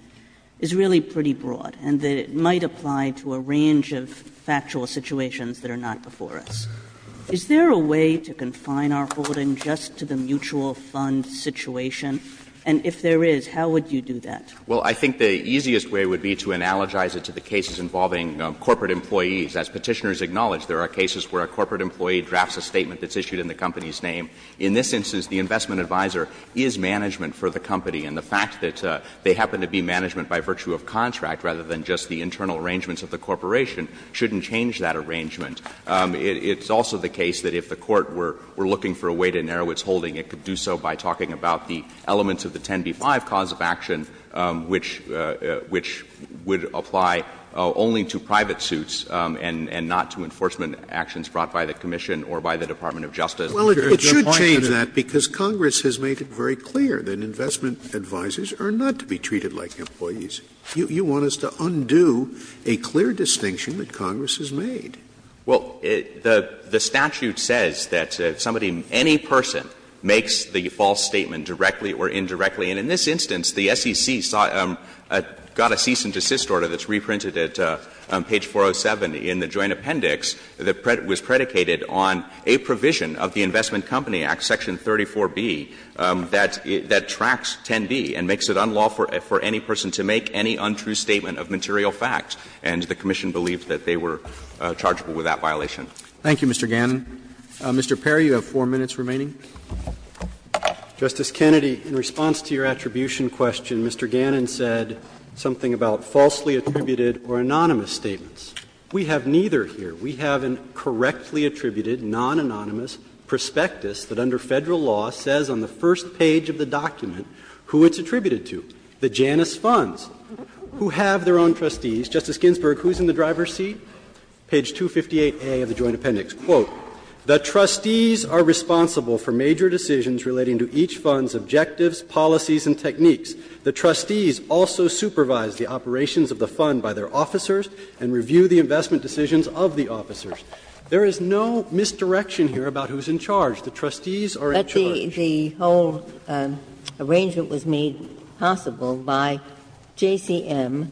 is really pretty broad, and that it might apply to a range of factual situations that are not before us. Is there a way to confine our holding just to the mutual fund situation? And if there is, how would you do that? Well, I think the easiest way would be to analogize it to the cases involving corporate employees. As Petitioners acknowledge, there are cases where a corporate employee drafts a statement that's issued in the company's name. In this instance, the investment advisor is management for the company. And the fact that they happen to be management by virtue of contract rather than just the internal arrangements of the corporation shouldn't change that arrangement. It's also the case that if the Court were looking for a way to narrow its holding, it could do so by talking about the elements of the 10b-5 cause of action, which would apply only to private suits and not to enforcement actions brought by the commission or by the Department of Justice. Scalia, it should change that, because Congress has made it very clear that investment advisors are not to be treated like employees. You want us to undo a clear distinction that Congress has made. Well, the statute says that somebody, any person, makes the false statement directly or indirectly. And in this instance, the SEC got a cease and desist order that's reprinted at page 407 in the Joint Appendix that was predicated on a provision of the investment company act, section 34b, that tracks 10b and makes it unlawful for any person to make any untrue statement of material facts. And the commission believed that they were chargeable with that violation. Roberts. Thank you, Mr. Gannon. Mr. Perry, you have 4 minutes remaining. Justice Kennedy, in response to your attribution question, Mr. Gannon said something about falsely attributed or anonymous statements. We have neither here. We have a correctly attributed, non-anonymous prospectus that under Federal law says on the first page of the document who it's attributed to, the Janus Funds, who have their own trustees. Justice Ginsburg, who's in the driver's seat? Page 258A of the Joint Appendix. Quote, ''The trustees are responsible for major decisions relating to each fund's objectives, policies, and techniques. The trustees also supervise the operations of the fund by their officers and review the investment decisions of the officers.'' There is no misdirection here about who's in charge. The trustees are in charge. Ginsburg. But the whole arrangement was made possible by JCM.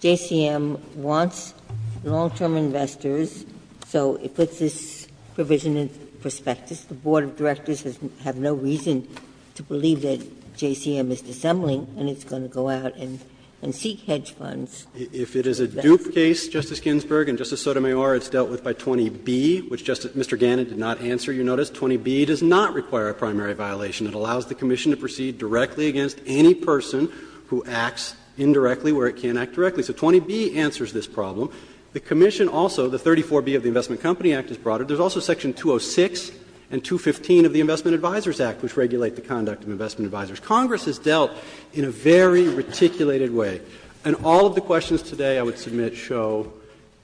JCM wants long-term investors, so it puts this provision in prospectus. The board of directors has no reason to believe that JCM is dissembling and it's going to go out and seek hedge funds. If it is a dupe case, Justice Ginsburg and Justice Sotomayor, it's dealt with by 20b, which Mr. Gannon did not answer, you notice. 20b does not require a primary violation. It allows the commission to proceed directly against any person who acts indirectly where it can't act directly. So 20b answers this problem. The commission also, the 34b of the Investment Company Act is brought. There's also section 206 and 215 of the Investment Advisors Act, which regulate the conduct of investment advisors. Congress has dealt in a very reticulated way. And all of the questions today I would submit show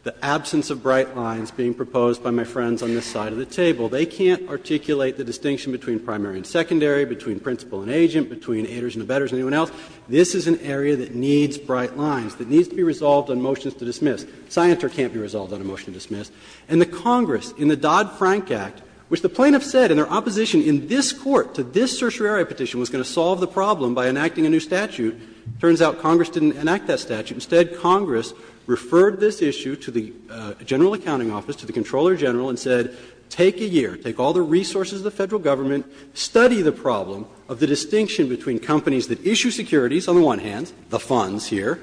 the absence of bright lines being proposed by my friends on this side of the table. They can't articulate the distinction between primary and secondary, between principal and agent, between haters and abettors and anyone else. This is an area that needs bright lines, that needs to be resolved on motions to dismiss. Scienter can't be resolved on a motion to dismiss. And the Congress, in the Dodd-Frank Act, which the plaintiffs said in their opposition in this Court to this certiorari petition was going to solve the problem by enacting a new statute. It turns out Congress didn't enact that statute. Instead, Congress referred this issue to the General Accounting Office, to the Comptroller General, and said, take a year, take all the resources of the Federal Government, study the problem of the distinction between companies that issue securities on the one hand, the funds here,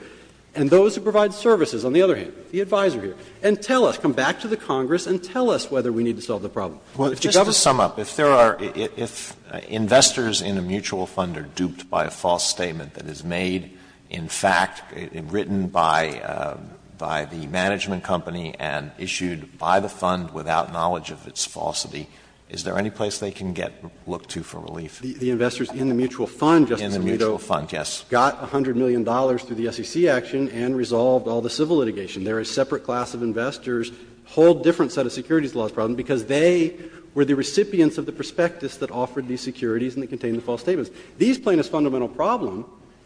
and those who provide services on the other hand, the advisor here, and tell us, come back to the Congress and tell us whether we need to solve the problem. Alito, just to sum up, if there are, if investors in a mutual fund are duped by a false statement that is made in fact, written by the management company and issued by the fund without knowledge of its falsity, is there any place they can get, look to for relief? The investors in the mutual fund, Justice Alito, got $100 million through the SEC action and resolved all the civil litigation. There are separate class of investors, whole different set of securities laws problem because they were the recipients of the prospectus that offered these securities and that contained the false statements. This plaintiff's fundamental problem,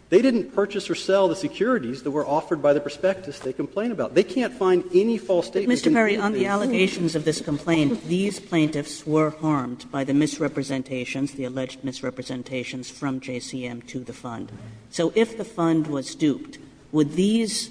they didn't purchase or sell the securities that were offered by the prospectus they complained about. They can't find any false statements. Kagan. But, Mr. Perry, on the allegations of this complaint, these plaintiffs were harmed by the misrepresentations, the alleged misrepresentations from JCM to the fund. So if the fund was duped, would these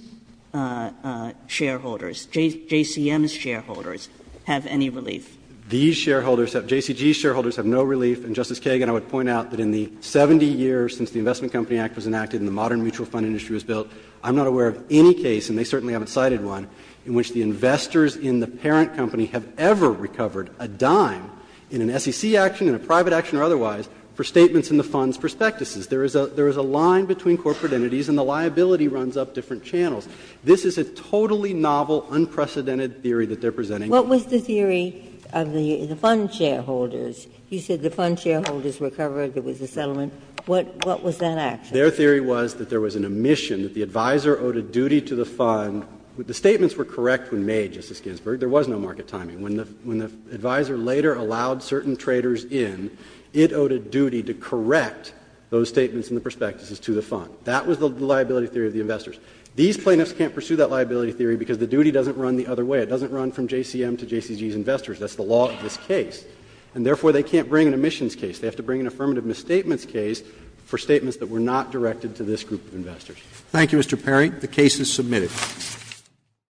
shareholders, JCM's shareholders, have any relief? These shareholders, JCG's shareholders have no relief. And, Justice Kagan, I would point out that in the 70 years since the Investment Company Act was enacted and the modern mutual fund industry was built, I'm not aware of any case, and they certainly haven't cited one, in which the investors in the parent company have ever recovered a dime in an SEC action, in a private action or otherwise, for statements in the fund's prospectuses. There is a line between corporate entities and the liability runs up different channels. This is a totally novel, unprecedented theory that they're presenting. What was the theory of the fund shareholders? You said the fund shareholders recovered, there was a settlement. What was that action? Their theory was that there was an omission, that the advisor owed a duty to the fund. The statements were correct when made, Justice Ginsburg. There was no market timing. When the advisor later allowed certain traders in, it owed a duty to correct those statements in the prospectuses to the fund. That was the liability theory of the investors. These plaintiffs can't pursue that liability theory because the duty doesn't run the other way. It doesn't run from JCM to JCG's investors. That's the law of this case. And therefore, they can't bring an omissions case. They have to bring an affirmative misstatements case for statements that were not directed to this group of investors. Thank you, Mr. Perry. The case is submitted.